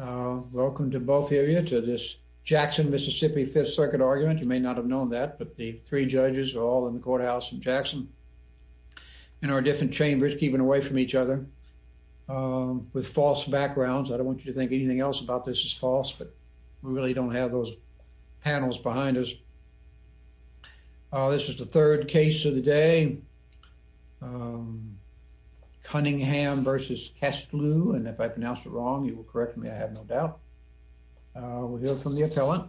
Welcome to both of you to this Jackson, Mississippi Fifth Circuit argument. You may not have known that, but the three judges are all in the courthouse in Jackson in our different chambers keeping away from each other with false backgrounds. I don't want you to think anything else about this is false, but we really don't have those panels behind us. This is the third case of the day. Cunningham v. Kestlew, and if I pronounced it wrong, you will correct me. I have no doubt. We'll hear from the appellant.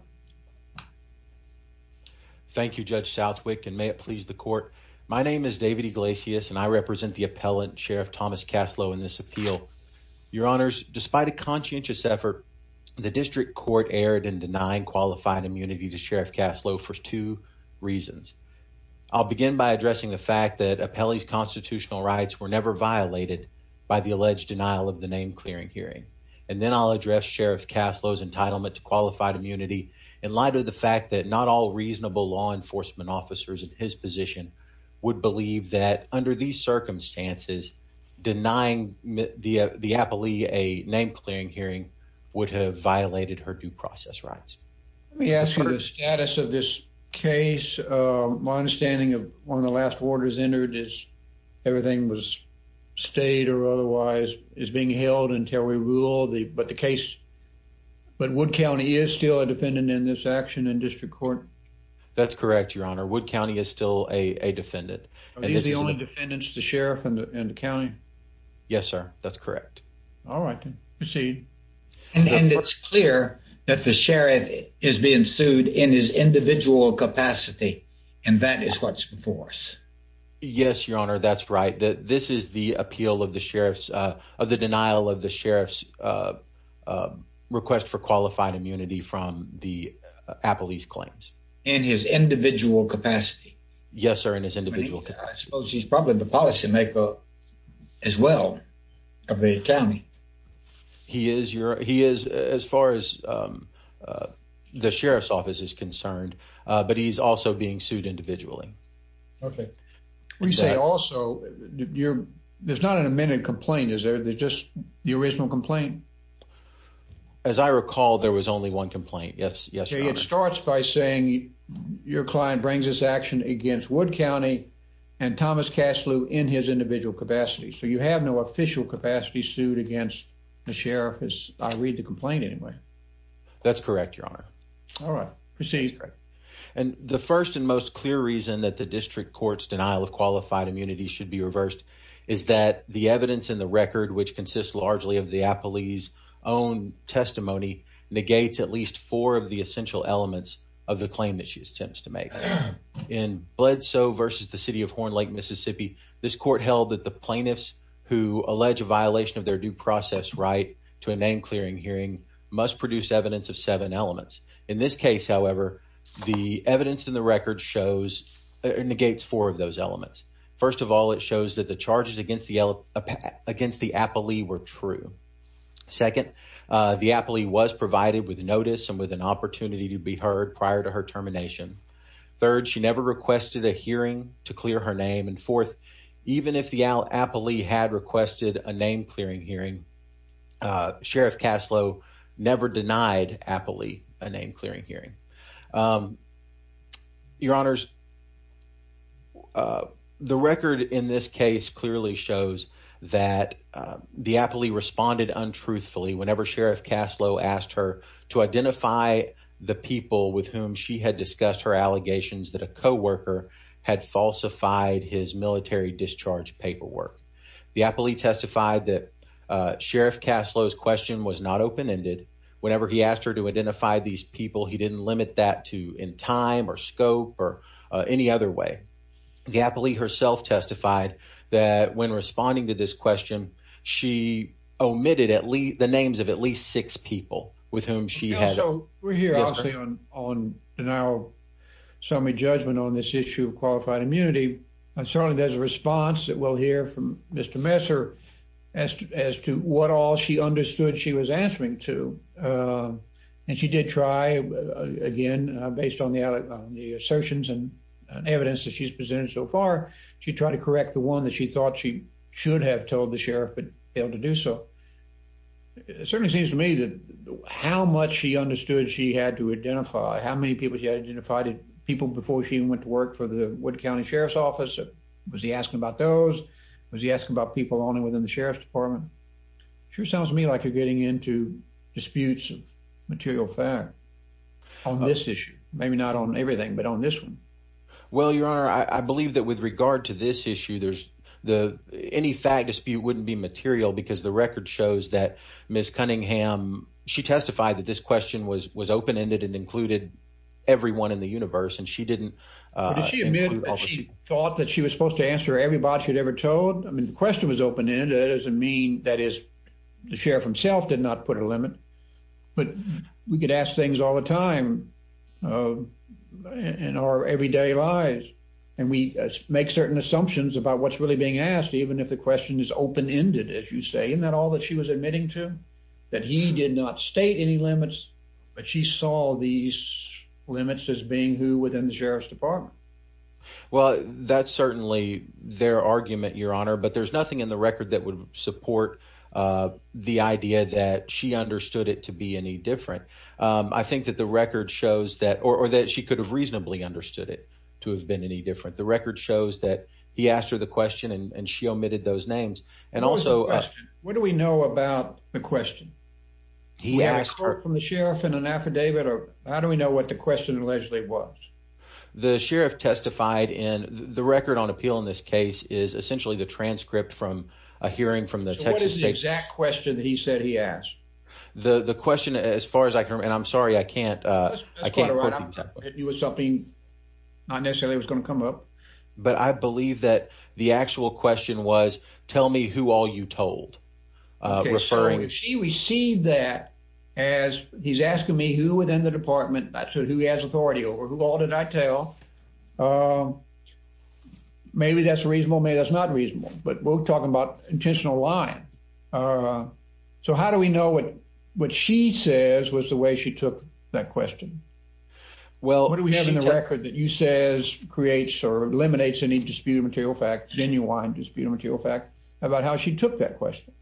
Thank you, Judge Southwick, and may it please the court. My name is David Iglesias, and I represent the appellant Sheriff Thomas Caslow in this appeal. Your honors, despite a conscientious effort, the district court aired and denying qualified immunity to Sheriff Caslow for two reasons. I'll begin by addressing the fact that appellees constitutional rights were never violated by the alleged denial of the name clearing hearing, and then I'll address Sheriff Caslow's entitlement to qualified immunity in light of the fact that not all reasonable law enforcement officers in his position would believe that under these circumstances, denying the appellee a name clearing hearing would have violated her due process rights. Let me ask you the status of this case. My understanding of one of the last orders entered is everything was stayed or otherwise is being held until we get to this case. But Wood County is still a defendant in this action in district court. That's correct, Your Honor. Wood County is still a defendant. The only defendants, the sheriff and the county. Yes, sir. That's correct. All right. Proceed. And it's clear that the sheriff is being sued in his individual capacity, and that is what's before us. Yes, Your Honor. That's right. This is the appeal of the sheriff's of the denial of the request for qualified immunity from the appellee's claims in his individual capacity. Yes, sir. In his individual case, he's probably the policymaker as well of the county. He is. He is. As far as, um, uh, the sheriff's office is concerned, but he's also being sued individually. Okay. We say. Also, you're there's not an amended complaint. Is there? There's just the original complaint. As I recall, there was only one complaint. Yes. Yes. It starts by saying your client brings this action against Wood County and Thomas Castle in his individual capacity. So you have no official capacity sued against the sheriff is I read the complaint anyway. That's correct, Your Honor. All right, proceed. And the first and most clear reason that the district court's denial of qualified immunity should be reversed is that the evidence in the record, which consists largely of the appellee's own testimony, negates at least four of the essential elements of the claim that she attempts to make in bled so versus the city of Horn Lake, Mississippi. This court held that the plaintiffs who allege a violation of their due process right to a name clearing hearing must produce evidence of seven elements. In this case, however, the evidence in the record shows negates four of those elements. First of all, it shows that the charges against the against the appellee were true. Second, the appellee was provided with notice and with an opportunity to be heard prior to her termination. Third, she never requested a hearing to clear her name and fourth, even if the appellee had requested a name clearing hearing, uh, Sheriff Caslow never denied appellee a name clearing hearing. Um, your honors. Uh, the record in this case clearly shows that the appellee responded untruthfully whenever Sheriff Caslow asked her to identify the people with whom she had discussed her allegations that a co worker had falsified his Sheriff Caslow's question was not open ended whenever he asked her to identify these people. He didn't limit that to in time or scope or any other way. The appellee herself testified that when responding to this question, she omitted at least the names of at least six people with whom she had. So we're here on on now. So many judgment on this issue of qualified immunity. And there's a response that we'll hear from Mr Messer as as to what all she understood she was answering to. Um, and she did try again based on the allegations, the assertions and evidence that she's presented so far. She tried to correct the one that she thought she should have told the sheriff, but able to do so. It certainly seems to me that how much she understood she had to identify how many people he identified people before she went to work for the Wood County Sheriff's Office. Was he asking about those? Was he asking about people on and within the sheriff's department? Sure sounds to me like you're getting into disputes of material fact on this issue. Maybe not on everything, but on this one. Well, your honor, I believe that with regard to this issue, there's the any fact dispute wouldn't be material because the record shows that Miss Cunningham, she testified that this question was open ended and everyone in the universe. And she didn't, uh, she thought that she was supposed to answer everybody had ever told. I mean, the question was open ended as a mean. That is, the sheriff himself did not put a limit. But we could ask things all the time. Uh, in our everyday lives, and we make certain assumptions about what's really being asked. Even if the question is open ended, as you say, in that all that she was admitting to that he did not state any limits. But she saw these limits as being who within the sheriff's department. Well, that's certainly their argument, Your Honor. But there's nothing in the record that would support, uh, the idea that she understood it to be any different. I think that the record shows that or that she could have reasonably understood it to have been any different. The record shows that he asked her the question, and she omitted those names. And also, what do we know about the question? He asked her from the sheriff in an affidavit. Or how do we know what the question allegedly was? The sheriff testified in the record on appeal in this case is essentially the transcript from a hearing from the Texas exact question that he said he asked the question as far as I can. And I'm sorry I can't. I can't put you with something. Not necessarily was gonna come up. But I believe that the actual question was, Tell me who all you told referring. She received that as he's asking me who would end the department. That's what who has authority over. Who all did I tell? Uh, maybe that's reasonable. Maybe that's not reasonable. But we're talking about intentional line. Uh, so how do we know what what she says was the way she took that question? Well, what do we have in the record that you says creates or eliminates any disputed material fact? Then you want disputed material fact about how she took that question.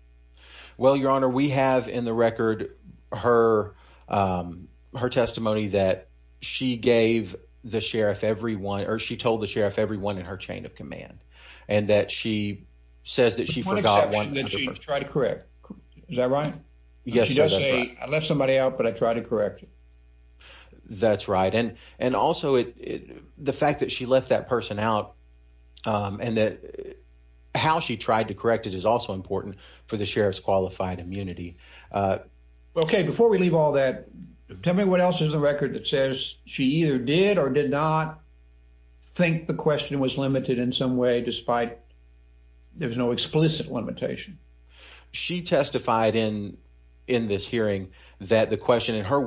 Well, Your Honor, we have in the record her, um, her testimony that she gave the sheriff everyone or she told the sheriff everyone in her chain of command and that she says that she forgot one that you've tried to correct. Is that right? Yes. I left somebody out, but I also it the fact that she left that person out, um, and that how she tried to correct it is also important for the sheriff's qualified immunity. Uh, okay. Before we leave all that, tell me what else is the record that says she either did or did not think the question was limited in some way, despite there's no explicit limitation. She testified in in this hearing that the question in her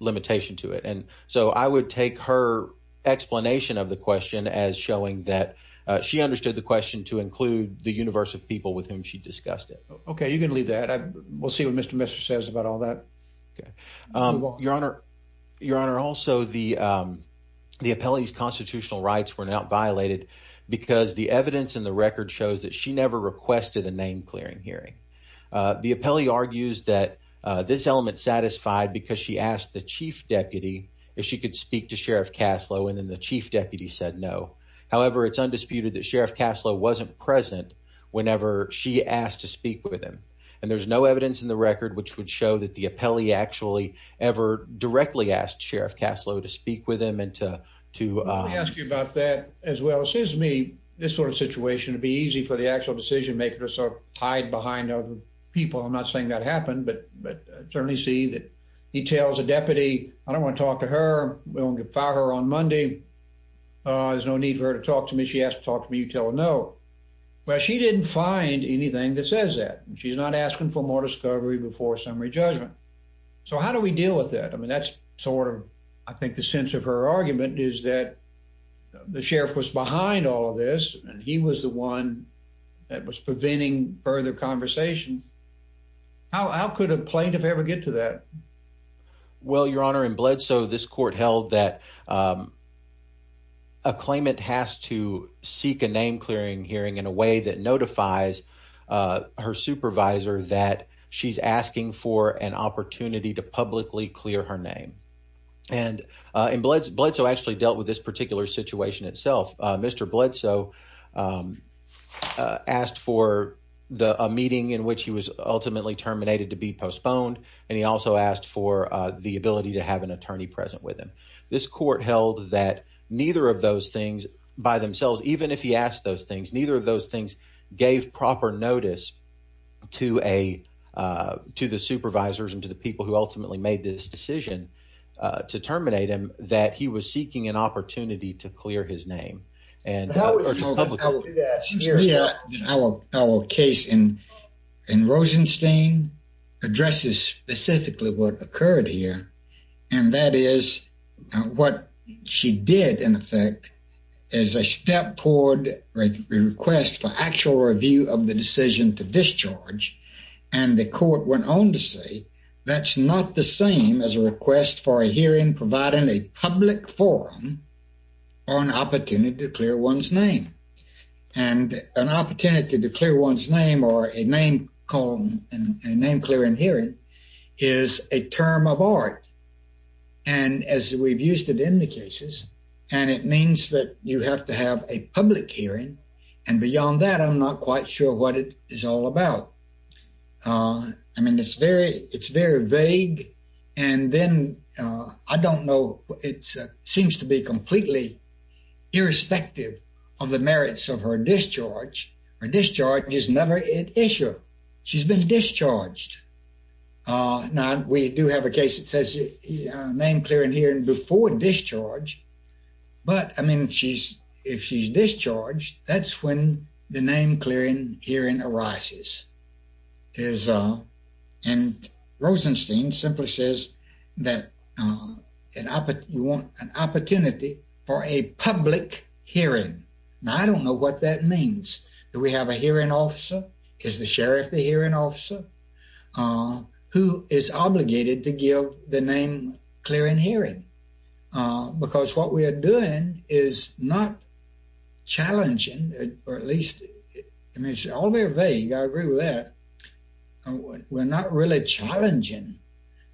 imitation to it. And so I would take her explanation of the question as showing that she understood the question to include the universe of people with whom she discussed it. Okay, you can leave that. We'll see what Mr Mr says about all that. Okay. Um, Your Honor, Your Honor. Also, the, um, the appellees constitutional rights were not violated because the evidence in the record shows that she never requested a name clearing hearing. The chief deputy, if she could speak to Sheriff Caslow, and then the chief deputy said no. However, it's undisputed that Sheriff Caslow wasn't present whenever she asked to speak with him, and there's no evidence in the record which would show that the appellee actually ever directly asked Sheriff Caslow to speak with him and to ask you about that as well. It seems to me this sort of situation would be easy for the actual decision maker. So hide behind other people. I'm not saying that happened, but but certainly see that he tells a deputy. I don't want to talk to her. We'll get fire on Monday. Uh, there's no need for her to talk to me. She has to talk to me. Tell No. Well, she didn't find anything that says that she's not asking for more discovery before summary judgment. So how do we deal with that? I mean, that's sort of, I think the sense of her argument is that the sheriff was behind all of this, and he was the one that was preventing further conversations. How could a plaintiff ever get to that? Well, Your Honor, in blood, so this court held that, um, a claimant has to seek a name clearing hearing in a way that notifies, uh, her supervisor that she's asking for an opportunity to publicly clear her name. And, uh, in blood blood, so actually dealt with this particular situation itself. Mr Bledsoe, um, asked for the meeting in which he was ultimately terminated to be postponed, and he also asked for the ability to have an attorney present with him. This court held that neither of those things by themselves, even if he asked those things, neither of those things gave proper notice to a, uh, to the supervisors and to the people who ultimately made this decision to terminate him that he was seeking an opportunity to clear his name. And how would you do that? Our case in in Rosenstein addresses specifically what occurred here, and that is what she did in effect is a step toward request for actual review of the decision to discharge. And the court went on to say that's not the same as a request for a hearing, providing a public forum or an opportunity to clear one's name and an name clearing hearing is a term of art. And as we've used it in the cases, and it means that you have to have a public hearing. And beyond that, I'm not quite sure what it is all about. Uh, I mean, it's very it's very vague. And then I don't know. It seems to be completely irrespective of the merits of her discharge. Uh, now we do have a case that says name clearing hearing before discharge. But I mean, she's if she's discharged, that's when the name clearing hearing arises is, uh, and Rosenstein simply says that, uh, you want an opportunity for a public hearing. Now, I don't know what that Uh, who is obligated to give the name clearing hearing? Uh, because what we are doing is not challenging, or at least I mean, it's all very vague. I agree with that. We're not really challenging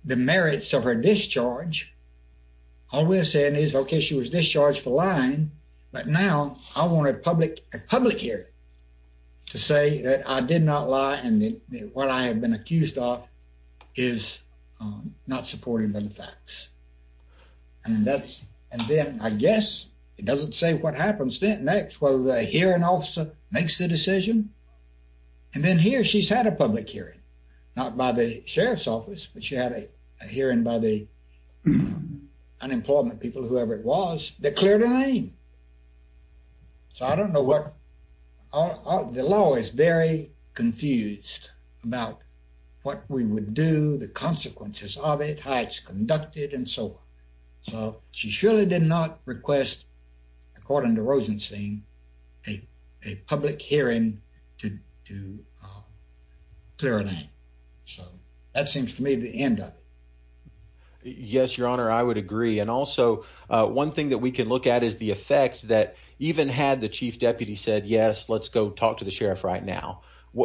the merits of her discharge. All we're saying is, okay, she was discharged for lying. But now I wanted a public public hearing to say that I did not lie. And what I have been accused off is not supported by the facts. And that's and then I guess it doesn't say what happens next, whether the hearing officer makes the decision. And then here she's had a public hearing, not by the sheriff's office, but she had a hearing by the unemployment people, whoever it was declared a name. So I don't know what the law is very confused about what we would do, the consequences of it, heights conducted and so on. So she surely did not request, according to Rosenstein, a public hearing to do clearly. So that seems to me the end of it. Your Honor, I would agree. And also one thing that we could look at is the effect that even had the chief deputy said, Yes, let's go talk to the sheriff right now.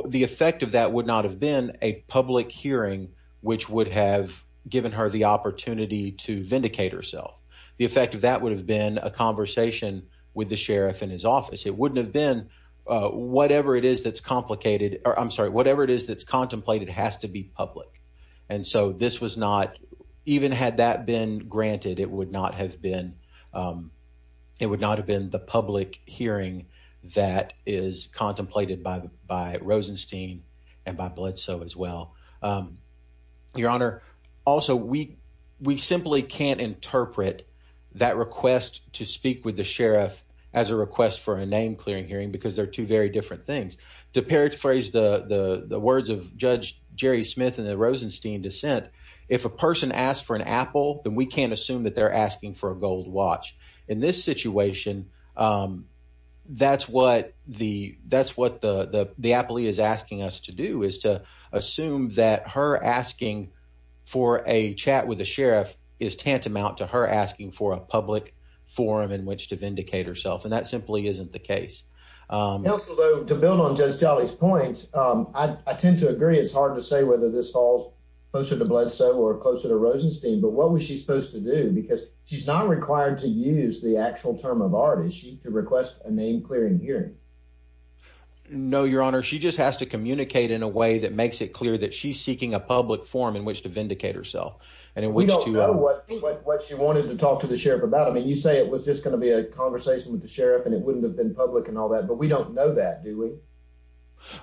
The effect of that would not have been a public hearing, which would have given her the opportunity to vindicate herself. The effect of that would have been a conversation with the sheriff in his office. It wouldn't have been whatever it is that's complicated. I'm sorry. Whatever it is that's been granted, it would not have been. It would not have been the public hearing that is contemplated by Rosenstein and by blood. So as well, Your Honor. Also, we we simply can't interpret that request to speak with the sheriff as a request for a name clearing hearing because they're two very different things. To paraphrase the words of Judge Jerry Smith and the person asked for an apple, then we can't assume that they're asking for a gold watch in this situation. Um, that's what the that's what the the happily is asking us to do is to assume that her asking for a chat with the sheriff is tantamount to her asking for a public forum in which to vindicate herself. And that simply isn't the case. Um, to build on just jolly's points, I tend to agree. It's hard to say whether this falls closer to blood. So we're closer to Rosenstein. But what was she supposed to do? Because she's not required to use the actual term of art. Is she to request a name clearing hearing? No, Your Honor. She just has to communicate in a way that makes it clear that she's seeking a public forum in which to vindicate herself. And we don't know what what she wanted to talk to the sheriff about. I mean, you say it was just gonna be a conversation with the sheriff, and it wouldn't have been public and all that. But we don't know that, do we?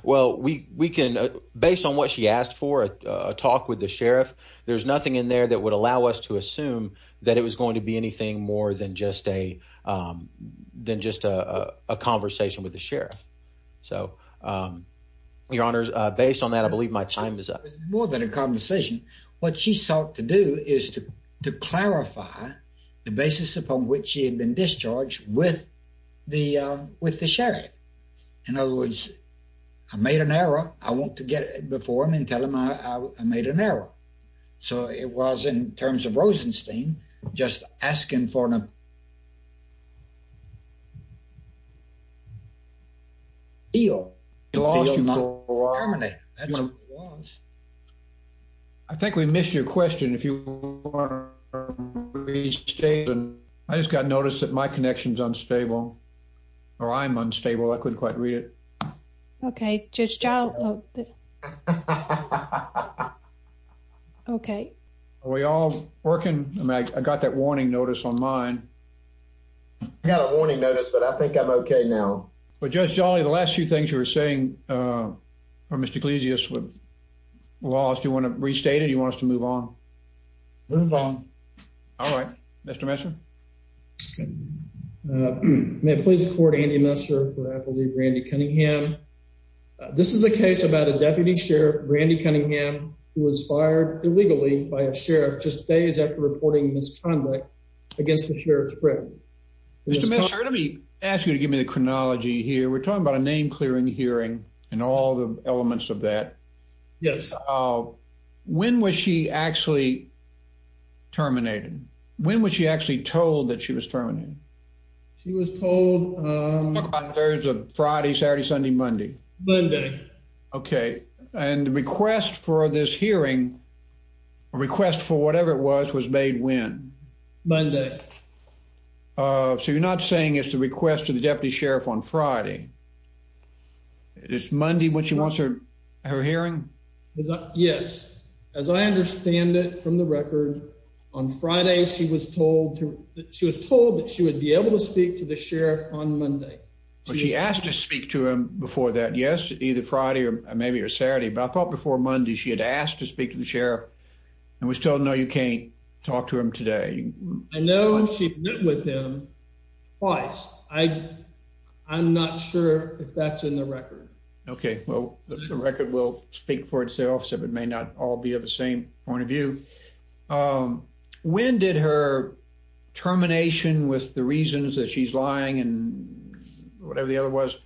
Well, we can, based on what she asked for a talk with the sheriff, there's nothing in there that would allow us to assume that it was going to be anything more than just a than just a conversation with the sheriff. So, um, Your Honor, based on that, I believe my time is up more than a conversation. What she sought to do is to clarify the basis upon which she had been discharged with the with the In other words, I made an error. I want to get before him and tell him I made an error. So it was in terms of Rosenstein just asking for an deal. I think we missed your question. If you are, please stay. I just got notice that my connections unstable or I'm unstable. I couldn't quite read it. Okay, just job. Okay, we all working. I got that warning notice on mine. I got a warning notice, but I think I'm okay now. But just jolly. The last few things you were saying, uh, Mr Ecclesius with lost. You want to restate you want us to move on? Move on. All right, Mr Messer. May it please the court. Andy Messer. I believe Randy Cunningham. This is a case about a deputy sheriff. Randy Cunningham was fired illegally by a sheriff just days after reporting misconduct against the sheriff's prison. Let me ask you to give me the chronology here. We're talking about a was she actually terminated? When was she actually told that she was terminated? She was told, um, there's a Friday, Saturday, Sunday, Monday, Monday. Okay. And request for this hearing request for whatever it was was made when Monday. Uh, so you're not saying it's the request of the deputy sheriff on Friday. It is Monday when she wants her her hearing. Yes, as I understand it from the record on Friday, she was told she was told that she would be able to speak to the sheriff on Monday. She asked to speak to him before that. Yes, either Friday or maybe or Saturday. But I thought before Monday she had asked to speak to the sheriff and was told No, you can't talk to him today. I know with him twice. I I'm not sure if that's in the record. Okay, well, the record will speak for itself. So it may not all be of the same point of view. Um, when did her termination with the reasons that she's lying and whatever the other was,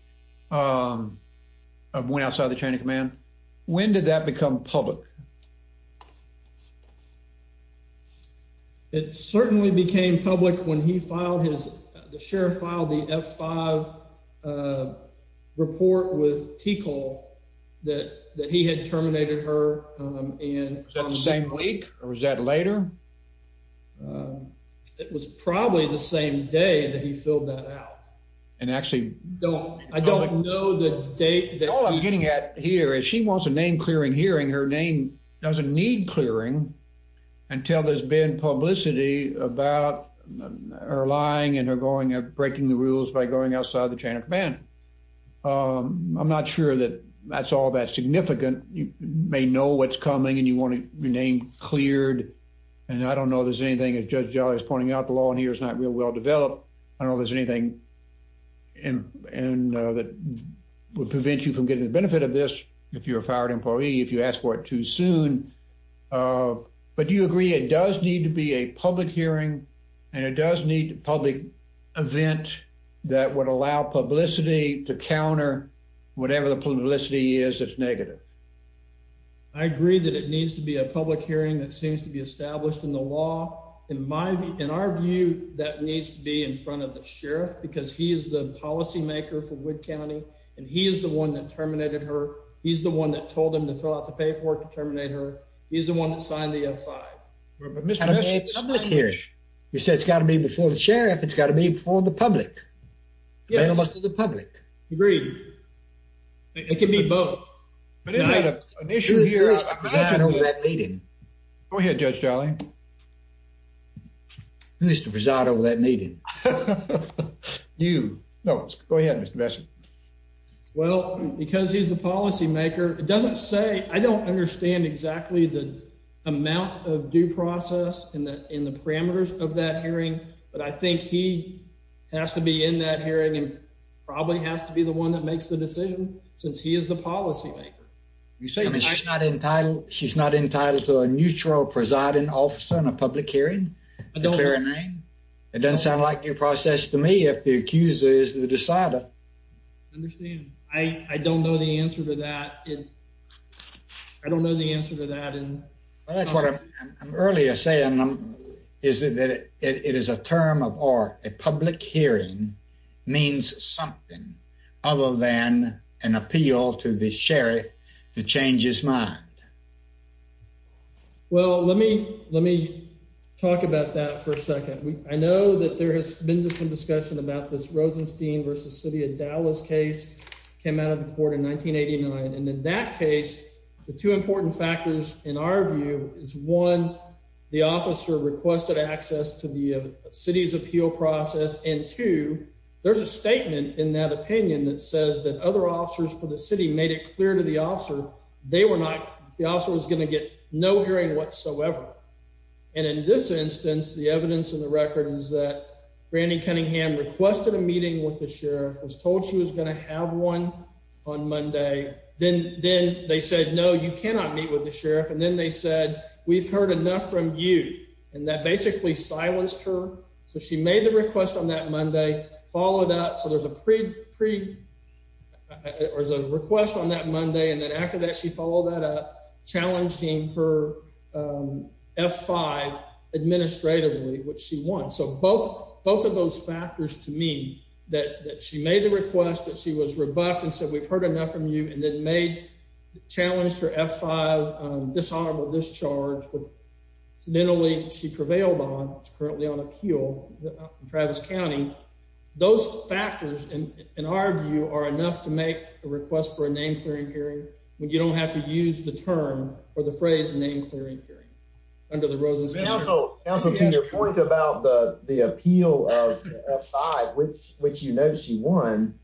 um, went outside the chain of command. When did that become public? Mhm. It certainly became public when he filed his. The sheriff filed the F five, uh, report with Tico that that he had terminated her in the same week. Or is that later? Um, it was probably the same day that he filled that out and actually don't I don't know the date that all I'm getting at here is she wants a name clearing hearing her name doesn't need clearing until there's been publicity about her lying and her going of breaking the rules by going outside the chain of command. Um, I'm not sure that that's all that significant. You may know what's coming and you want to rename cleared. And I don't know there's anything. It's just jolly is pointing out the law. And here's not real well developed. I don't know there's anything and and that would prevent you from getting the benefit of this. If you're an employee, if you ask for it too soon. Uh, but you agree it does need to be a public hearing, and it does need public event that would allow publicity to counter whatever the publicity is. It's negative. I agree that it needs to be a public hearing that seems to be established in the law. In my in our view, that needs to be in front of the sheriff because he is the policymaker for Wood County, and he is the one that terminated her. He's the one that told him to fill out the paperwork to terminate her. He's the one that signed the five. I'm not here. You said it's got to be before the sheriff. It's got to be for the public. Yes, the public agreed. It could be both. But it's not an issue here. I don't know that meeting. Go ahead, Judge Charlie. Who is the result of that meeting? You know, go ahead, Mr Best. Well, because he's the policymaker, it doesn't say I don't understand exactly the amount of due process in the in the parameters of that hearing. But I think he has to be in that hearing and probably has to be the one that makes the decision since he is the policymaker. You say she's not entitled. She's not entitled to a neutral presiding officer in a public hearing. I don't hear a name. It doesn't sound like your process to me. If the accuser is the decider, understand, I don't know the answer to that. I don't know the answer to that. And that's what I'm earlier saying is that it is a term of art. A public hearing means something other than an appeal to the sheriff to change his mind. Well, let me let me talk about that for a second. I know that there has been some discussion about this Rosenstein versus city of Dallas case came out of the court in 1989. And in that case, the two important factors in our view is one. The officer requested access to the city's appeal process. And two, there's a statement in that opinion that says that other officers for the city made it clear to the officer they were not. The officer was gonna get no hearing whatsoever. And in this instance, the evidence in the record is that Brandi Cunningham requested a meeting with the sheriff was told she was gonna have one on Monday. Then then they said, No, you cannot meet with the sheriff. And then they said, We've heard enough from you. And that basically silenced her. So she made the request on that Monday followed up. So there's a pre pre. It was a request on that Monday. And then after that, she won. So both both of those factors to me that she made the request that she was rebuffed and said, We've heard enough from you and then made challenged her F five dishonorable discharge with mentally. She prevailed on. It's currently on appeal. Travis County. Those factors in our view are enough to make a request for a name clearing hearing when you don't have to use the term or the phrase name clearing hearing under the roses. Also, also to your point about the appeal of five, which which, you know, she won.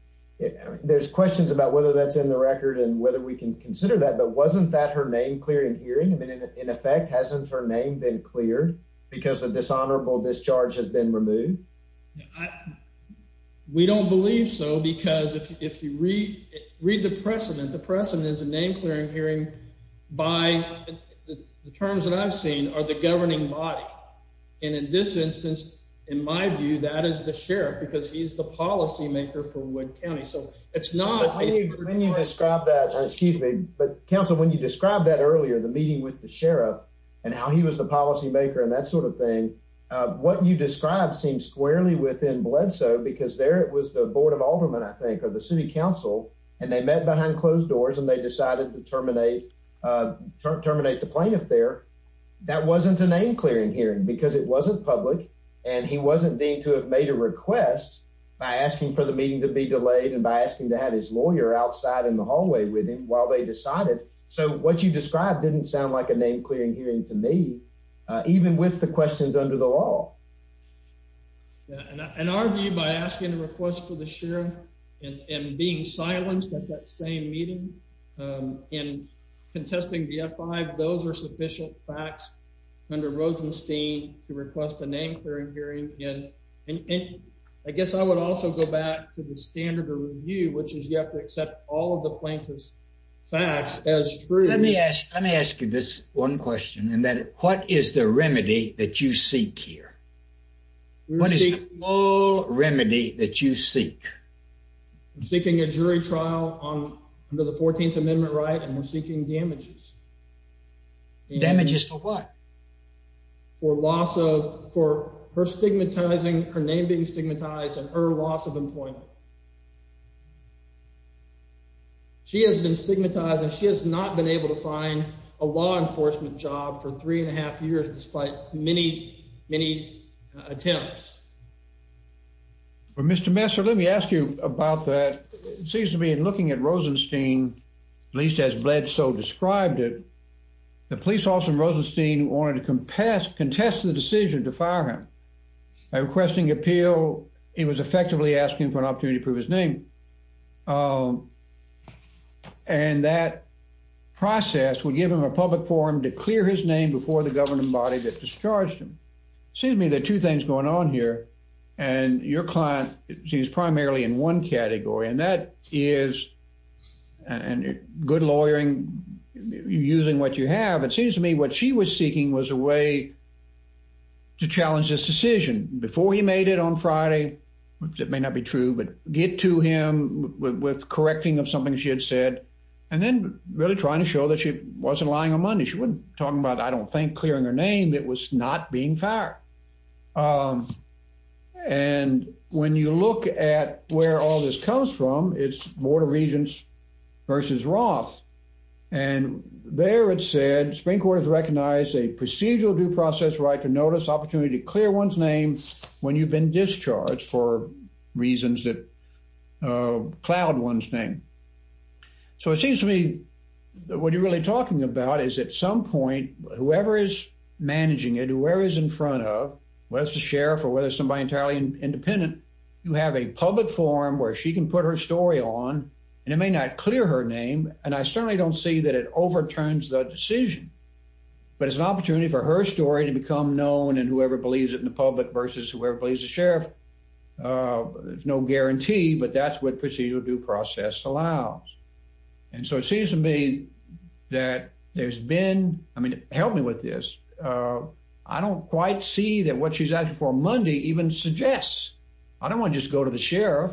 There's questions about whether that's in the record and whether we can consider that. But wasn't that her name clearing hearing? I mean, in effect, hasn't her name been cleared because the dishonorable discharge has been removed? We don't believe so, because if you read read the precedent, the precedent is a name clearing hearing by the terms that I've seen are the governing body. And in this instance, in my view, that is the sheriff because he's the policy maker for Wood County. So it's not when you describe that. Excuse me. But Council, when you describe that earlier, the meeting with the sheriff and how he was the policymaker and that sort of thing, what you described seems squarely within bled so because there it was the board of Alderman, I think, or the city council, and they met behind closed doors and they decided to terminate terminate the plaintiff there. That wasn't a name clearing hearing because it wasn't public and he wasn't deemed to have made a request by asking for the meeting to be delayed and by asking to have his lawyer outside in the hallway with him while they decided. So what you described didn't sound like a name clearing hearing to me, even with the questions under the law on our view by asking a request for the sheriff and being silenced at that same meeting in contesting the F five. Those are sufficient facts under Rosenstein to request a name clearing hearing. And I guess I would also go back to the standard of review, which is you have to accept all of the plaintiff's facts as true. Let me ask. Let me ask you this one question and that what is the remedy that you seek here? What is all remedy that you seek? Seeking a jury trial on under the 14th Amendment right and we're seeking damages damages for what? For loss of for her stigmatizing her name being stigmatized and her loss of employment. She has been stigmatized and she has not been able to find a law enforcement job for 3.5 years, despite many, many attempts. But, Mr. Messer, let me ask you about that. It seems to be looking at Rosenstein, at least as bled so described it. The police officer in Rosenstein wanted to compass contest the decision to fire him requesting appeal. It was effectively asking for an opportunity to prove his name. Oh, and that process would give him a public forum to clear his name before the governing body that discharged him. Seems to me that two things going on here and your client seems primarily in one category, and that is and good lawyering using what you have. It seems to me what she was seeking was a way to challenge this decision before he made it on Friday. It may not be true, but get to him with correcting of something she had said and then really trying to show that she wasn't lying on money. She wouldn't talk about. I don't think clearing her name. It was not being fire. Um, and when you look at where all this comes from, it's Board of Regents versus Roth. And there it said, Spring quarters recognized a procedural due process right to notice opportunity to clear one's name when you've been discharged for reasons that cloud one's name. So it seems to me that what you're really talking about is at some point, whoever is managing it, whoever is in front of was the sheriff or whether somebody entirely independent, you have a public forum where she can put her story on, and it may not clear her name. And I certainly don't see that it overturns the decision, but it's an opportunity for her story to become known. And whoever believes it in the public versus whoever believes the sheriff. Uh, there's no guarantee, but that's what procedural due process allows. And so it seems to me that there's been. I mean, help me with this. Uh, I don't quite see that what she's asked for Monday even suggests. I don't want just go to the sheriff.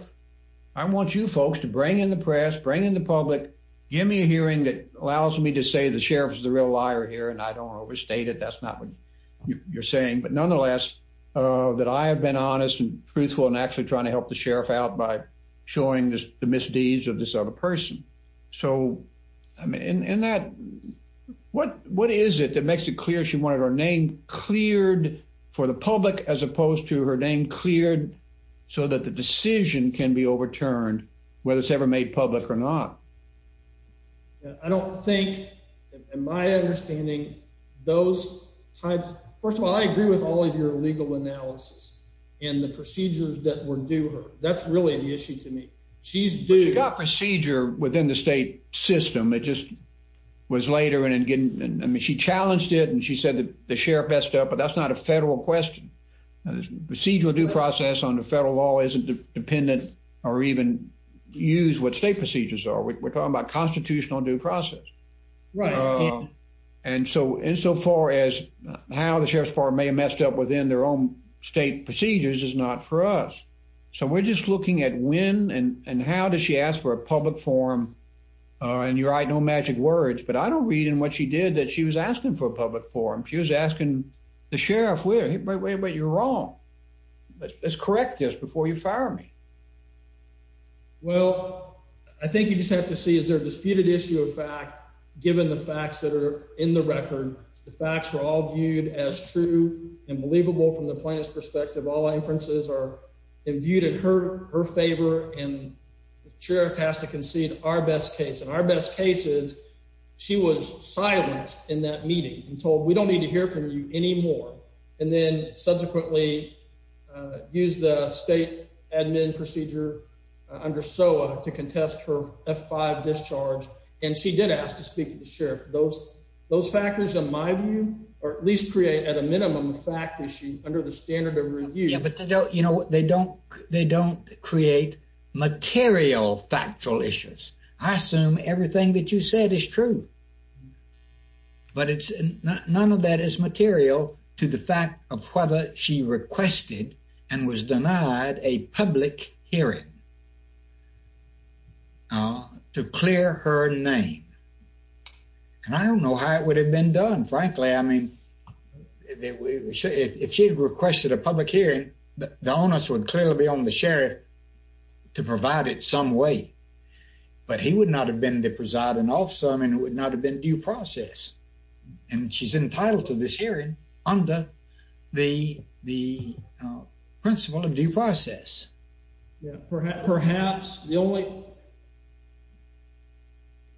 I want you folks to bring in the press, bring in the public. Give me a hearing that allows me to say the sheriff is a real liar here, and I don't overstate it. That's not what you're saying. But nonetheless, uh, that I have been honest and truthful and actually trying to help the sheriff out by showing the misdeeds of this other person. So I mean, in that what? What is it that makes it clear? She wanted her name cleared for the public as opposed to her name cleared so that the decision can be overturned whether it's ever made public or not. I don't think in my understanding those types. First of all, I agree with all of your legal analysis and the procedures that were do her. That's really the issue to me. She's doing procedure within the state system. It just was later and again. I mean, she challenged it, and she said that the sheriff messed up. But that's not a federal question. Procedural due process on the federal law isn't dependent or even use what state procedures are. We're talking about constitutional due process, right? And so insofar as how the sheriff's bar may have messed up within their own state procedures is not for us. So we're just looking at when and how does she ask for a public forum on your I know magic words, but I don't read in what she did that she was asking for a public forum. She was asking the sheriff where you're wrong. Let's correct this before you fire me. Well, I think you just have to see. Is there a disputed issue of fact, given the facts that are in the record, the facts were all viewed as true and believable from the plant's perspective. All inferences are viewed in her her favor, and the sheriff has to concede our best case in our best cases. She was silenced in that meeting and told We don't need to hear from you anymore, and then subsequently use the state admin procedure under so to contest her F five discharge. And she did ask to speak to the sheriff. Those those factors, in my view, or at least create at a minimum fact issue under the standard of review. But they don't. You know what? They don't. They don't create material factual issues. I assume everything that you said is true. But it's not. None of that is material to the fact of whether she requested and was denied a public hearing to clear her name. And I don't know how it would have been done. Frankly, I mean, if she had requested a public hearing, the onus would clearly be on the sheriff to would not have been the presiding officer. I mean, it would not have been due process, and she's entitled to this hearing under the the principle of due process. Perhaps the only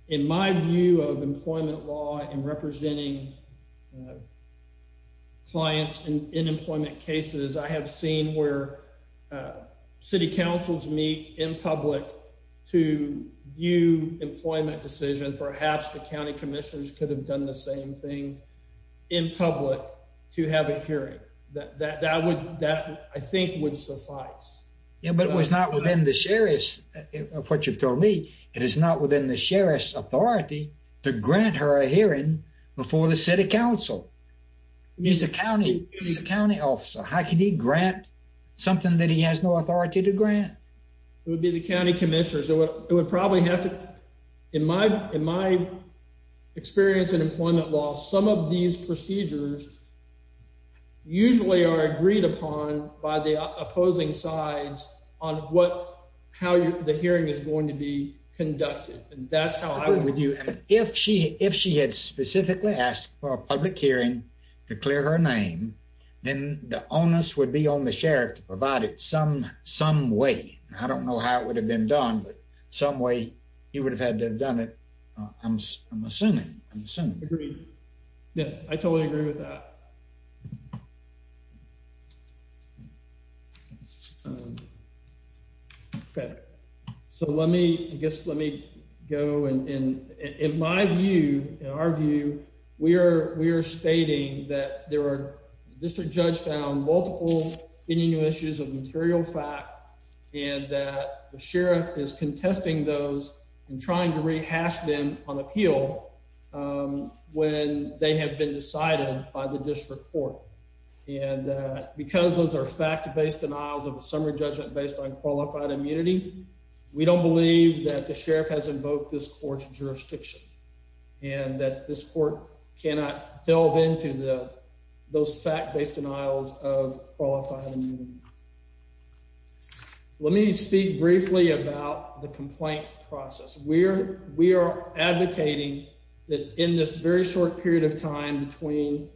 in my view of employment law and representing clients in employment cases I have seen where city councils meet in public to view employment decision. Perhaps the county commissioners could have done the same thing in public to have a hearing that that would that I think would suffice. But it was not within the sheriff's what you've told me. It is not within the sheriff's authority to grant her a hearing before the City Council. He's a county county officer. How can he grant something that he has no authority to grant? It would be the county commissioners. It would probably have to in my in my experience in employment law. Some of these procedures usually are agreed upon by the opposing sides on what how the hearing is going to be conducted. And that's how I would do it. If she if she had specifically asked for a public hearing to clear her name, then the onus would be on the sheriff to provide it some some way. I don't know how it would have been done, but some way you would have had to have done it. I'm assuming I'm assuming that I totally agree with that. Okay, so let me guess. Let me go. And in my view, in our view, we're we're stating that there were just a judge down, multiple issues of material fact and that the sheriff is contesting those and trying to rehash them on appeal. Um, when they have been decided by the district court and because those are fact based denials of a summer judgment based on qualified immunity, we don't believe that the sheriff has invoked this court's jurisdiction and that this court cannot delve into the those fact based denials of qualified. Let me speak briefly about the complaint process where we are advocating that in this very short period of time between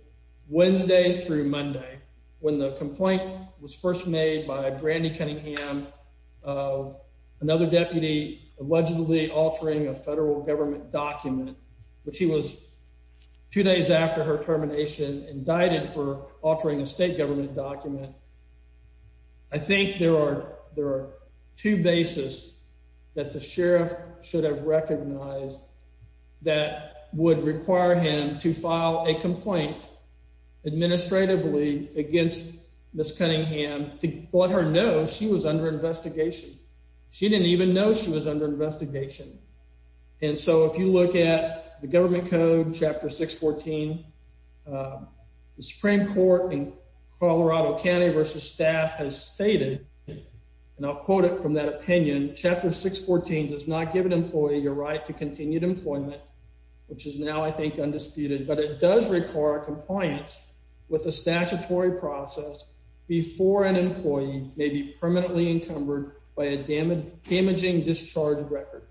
Wednesday through Monday, when the complaint was first made by Brandy Cunningham of another deputy allegedly altering a federal government document, which he was two days after her termination, indicted for altering a state government document. I think there are. There are two bases that the sheriff should have recognized that would require him to file a complaint administratively against Miss Cunningham to let her know she was under investigation. She didn't even know she was under investigation. And so if you look at the government code, Chapter 6 14, uh, the Supreme Court in Colorado County versus staff has stated, and I'll quote it from that opinion. Chapter 6 14 does not give an employee your right to continued employment, which is now, I think, undisputed. But it does require compliance with the statutory process before an employee may be permanently encumbered by a damaged damaging discharge record.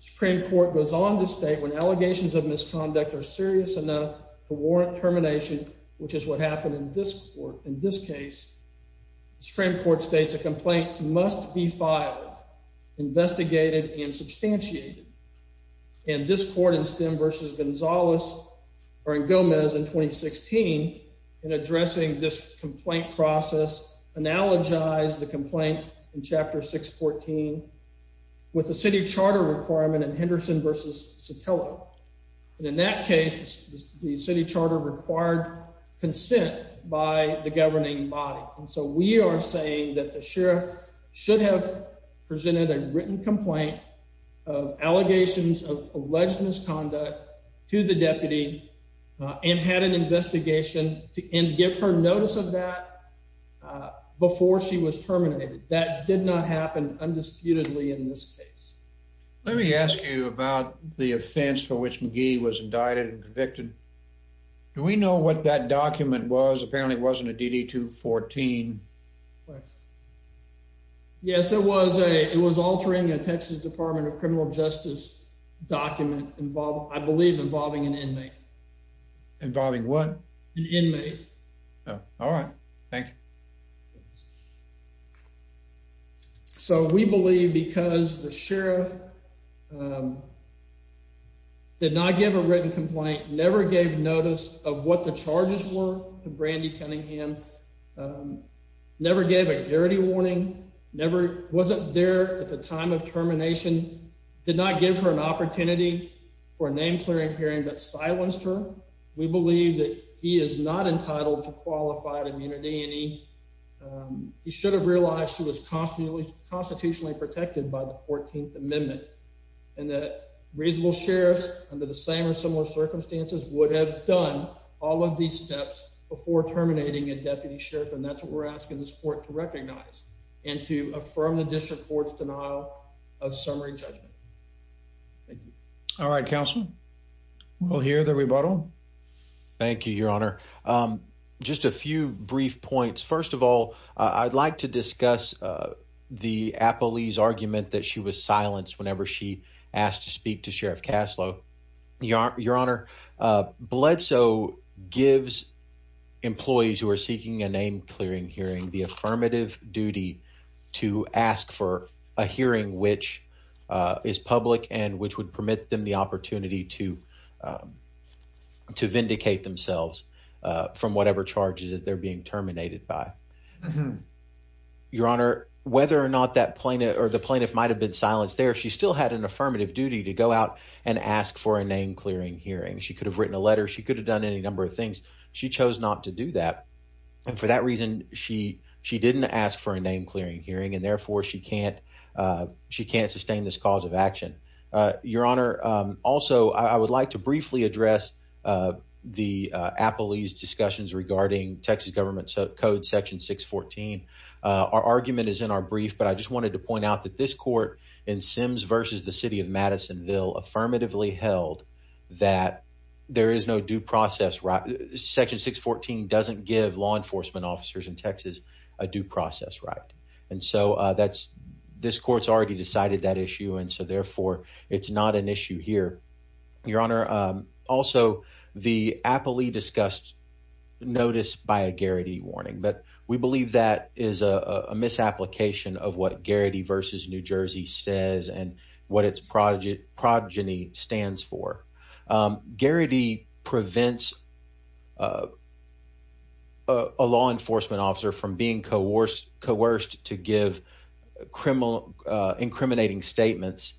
Supreme Court goes on to state when allegations of misconduct are serious enough to warrant termination, which is what happened in this court. In this case, Supreme Court states a complaint must be filed, investigated and substantiated. And this court in Stem versus Gonzalez or in Gomez in 2016 in addressing this complaint process, analogize the complaint in Chapter 6 14 with the city charter requirement in Henderson versus Sotelo. And in that case, the city charter required consent by the governing body. And so we are saying that the sheriff should have presented a written complaint of allegations of alleged misconduct to the deputy and had an investigation to give her notice of that before she was terminated. That did not happen undisputedly in this case. Let me ask you about the offense for which McGee was indicted and convicted. Do we know what that altering a Texas Department of Criminal Justice document involved, I believe, involving an inmate involving one inmate. All right. Thank you. So we believe because the sheriff, um, did not give a written complaint, never gave notice of what the charges were. Brandi Cunningham, um, never gave a guarantee warning. Never wasn't there at time of termination, did not give her an opportunity for a name clearing hearing that silenced her. We believe that he is not entitled to qualified immunity, and he, um, he should have realized he was constantly constitutionally protected by the 14th Amendment and that reasonable sheriffs under the same or similar circumstances would have done all of these steps before terminating a deputy sheriff. And that's what we're asking this court to recognize and to affirm the district court's denial of summary judgment. All right, Council. We'll hear the rebuttal. Thank you, Your Honor. Um, just a few brief points. First of all, I'd like to discuss, uh, the Apple Lee's argument that she was silenced whenever she asked to speak to Sheriff Caslow. Your Your Honor. Uh, blood. So gives employees who are seeking a name clearing hearing the affirmative duty to ask for a hearing, which is public and which would permit them the opportunity to, um, to vindicate themselves from whatever charges that they're being terminated by. Mm. Your Honor, whether or not that plaintiff or the plaintiff might have been silenced there, she still had an affirmative duty to go out and ask for a name clearing hearing. She could have written a letter. She could have done any number of things. She chose not to do that. And for that reason, she she didn't ask for a name clearing hearing, and therefore she can't. Uh, she can't sustain this cause of action. Uh, Your Honor. Um, also, I would like to briefly address, uh, the Apple Lee's discussions regarding Texas government code section 6 14. Our argument is in our brief, but I just wanted to point out that this court in Sims versus the city of Madisonville affirmatively held that there is no due process, right? Section 6 14 doesn't give law enforcement officers in Texas a due process, right? And so that's this court's already decided that issue. And so, therefore, it's not an issue here, Your Honor. Um, also, the Apple Lee discussed notice by a Garrity warning, but we believe that is a misapplication of what Garrity versus New Jersey says and what its project progeny stands for. Um, Garrity prevents, uh, a law enforcement officer from being coerced, coerced to give criminal incriminating statements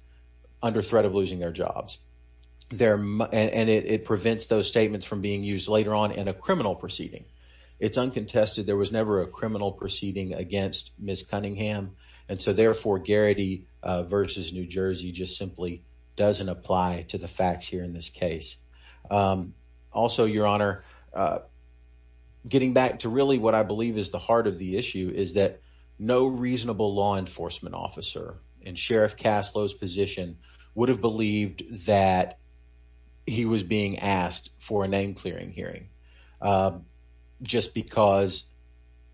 under threat of losing their jobs there, and it prevents those statements from being used later on in a criminal proceeding. It's uncontested. There was never a criminal proceeding against Miss Cunningham, and so, therefore, Garrity versus New Jersey just simply doesn't apply to the facts here in this case. Um, also, Your Honor, uh, getting back to really what I believe is the heart of the issue is that no reasonable law enforcement officer and Sheriff Cast Lo's position would have believed that he was being asked for a name clearing hearing, um, just because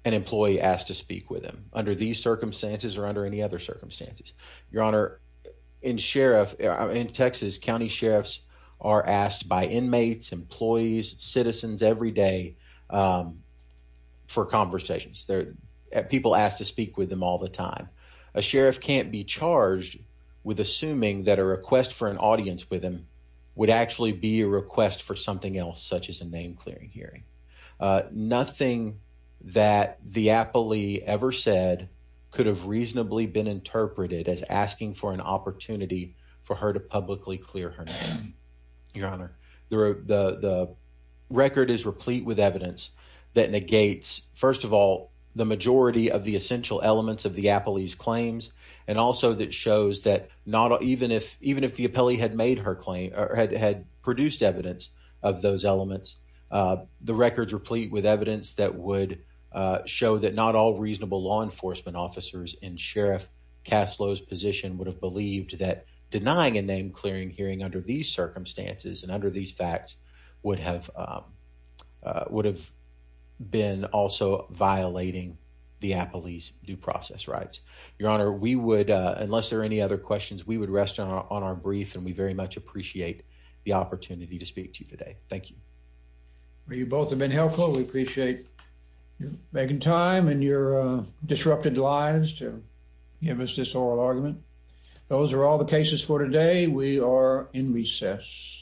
an employee asked to speak with him under these circumstances or under any other circumstances. Your Honor, in sheriff in Texas, county sheriffs are asked by inmates, employees, citizens every day. Um, for conversations there, people asked to speak with them all the time. A sheriff can't be charged with assuming that a request for an audience with him would actually be a request for something else, such as a name clearing hearing. Uh, nothing that the Apple Lee ever said could have reasonably been interpreted as asking for an opportunity for her to publicly clear her name. Your Honor, the record is replete with evidence that negates, first of all, the majority of the essential elements of the Apple Ease claims and also that shows that not even if even if the appellee had made her claim or had had produced evidence of those elements, uh, the records replete with evidence that would show that not all reasonable law enforcement officers and Sheriff Cast Lo's position would have believed that denying a name clearing hearing under these circumstances and under these facts would have, uh, would have been also violating the Apple Ease due process rights. Your Honor, we would, unless there are any other questions, we would rest on our brief, and we thank you. Well, you both have been helpful. We appreciate making time and your disrupted lives to give us this oral argument. Those are all the cases for today. We are in recess.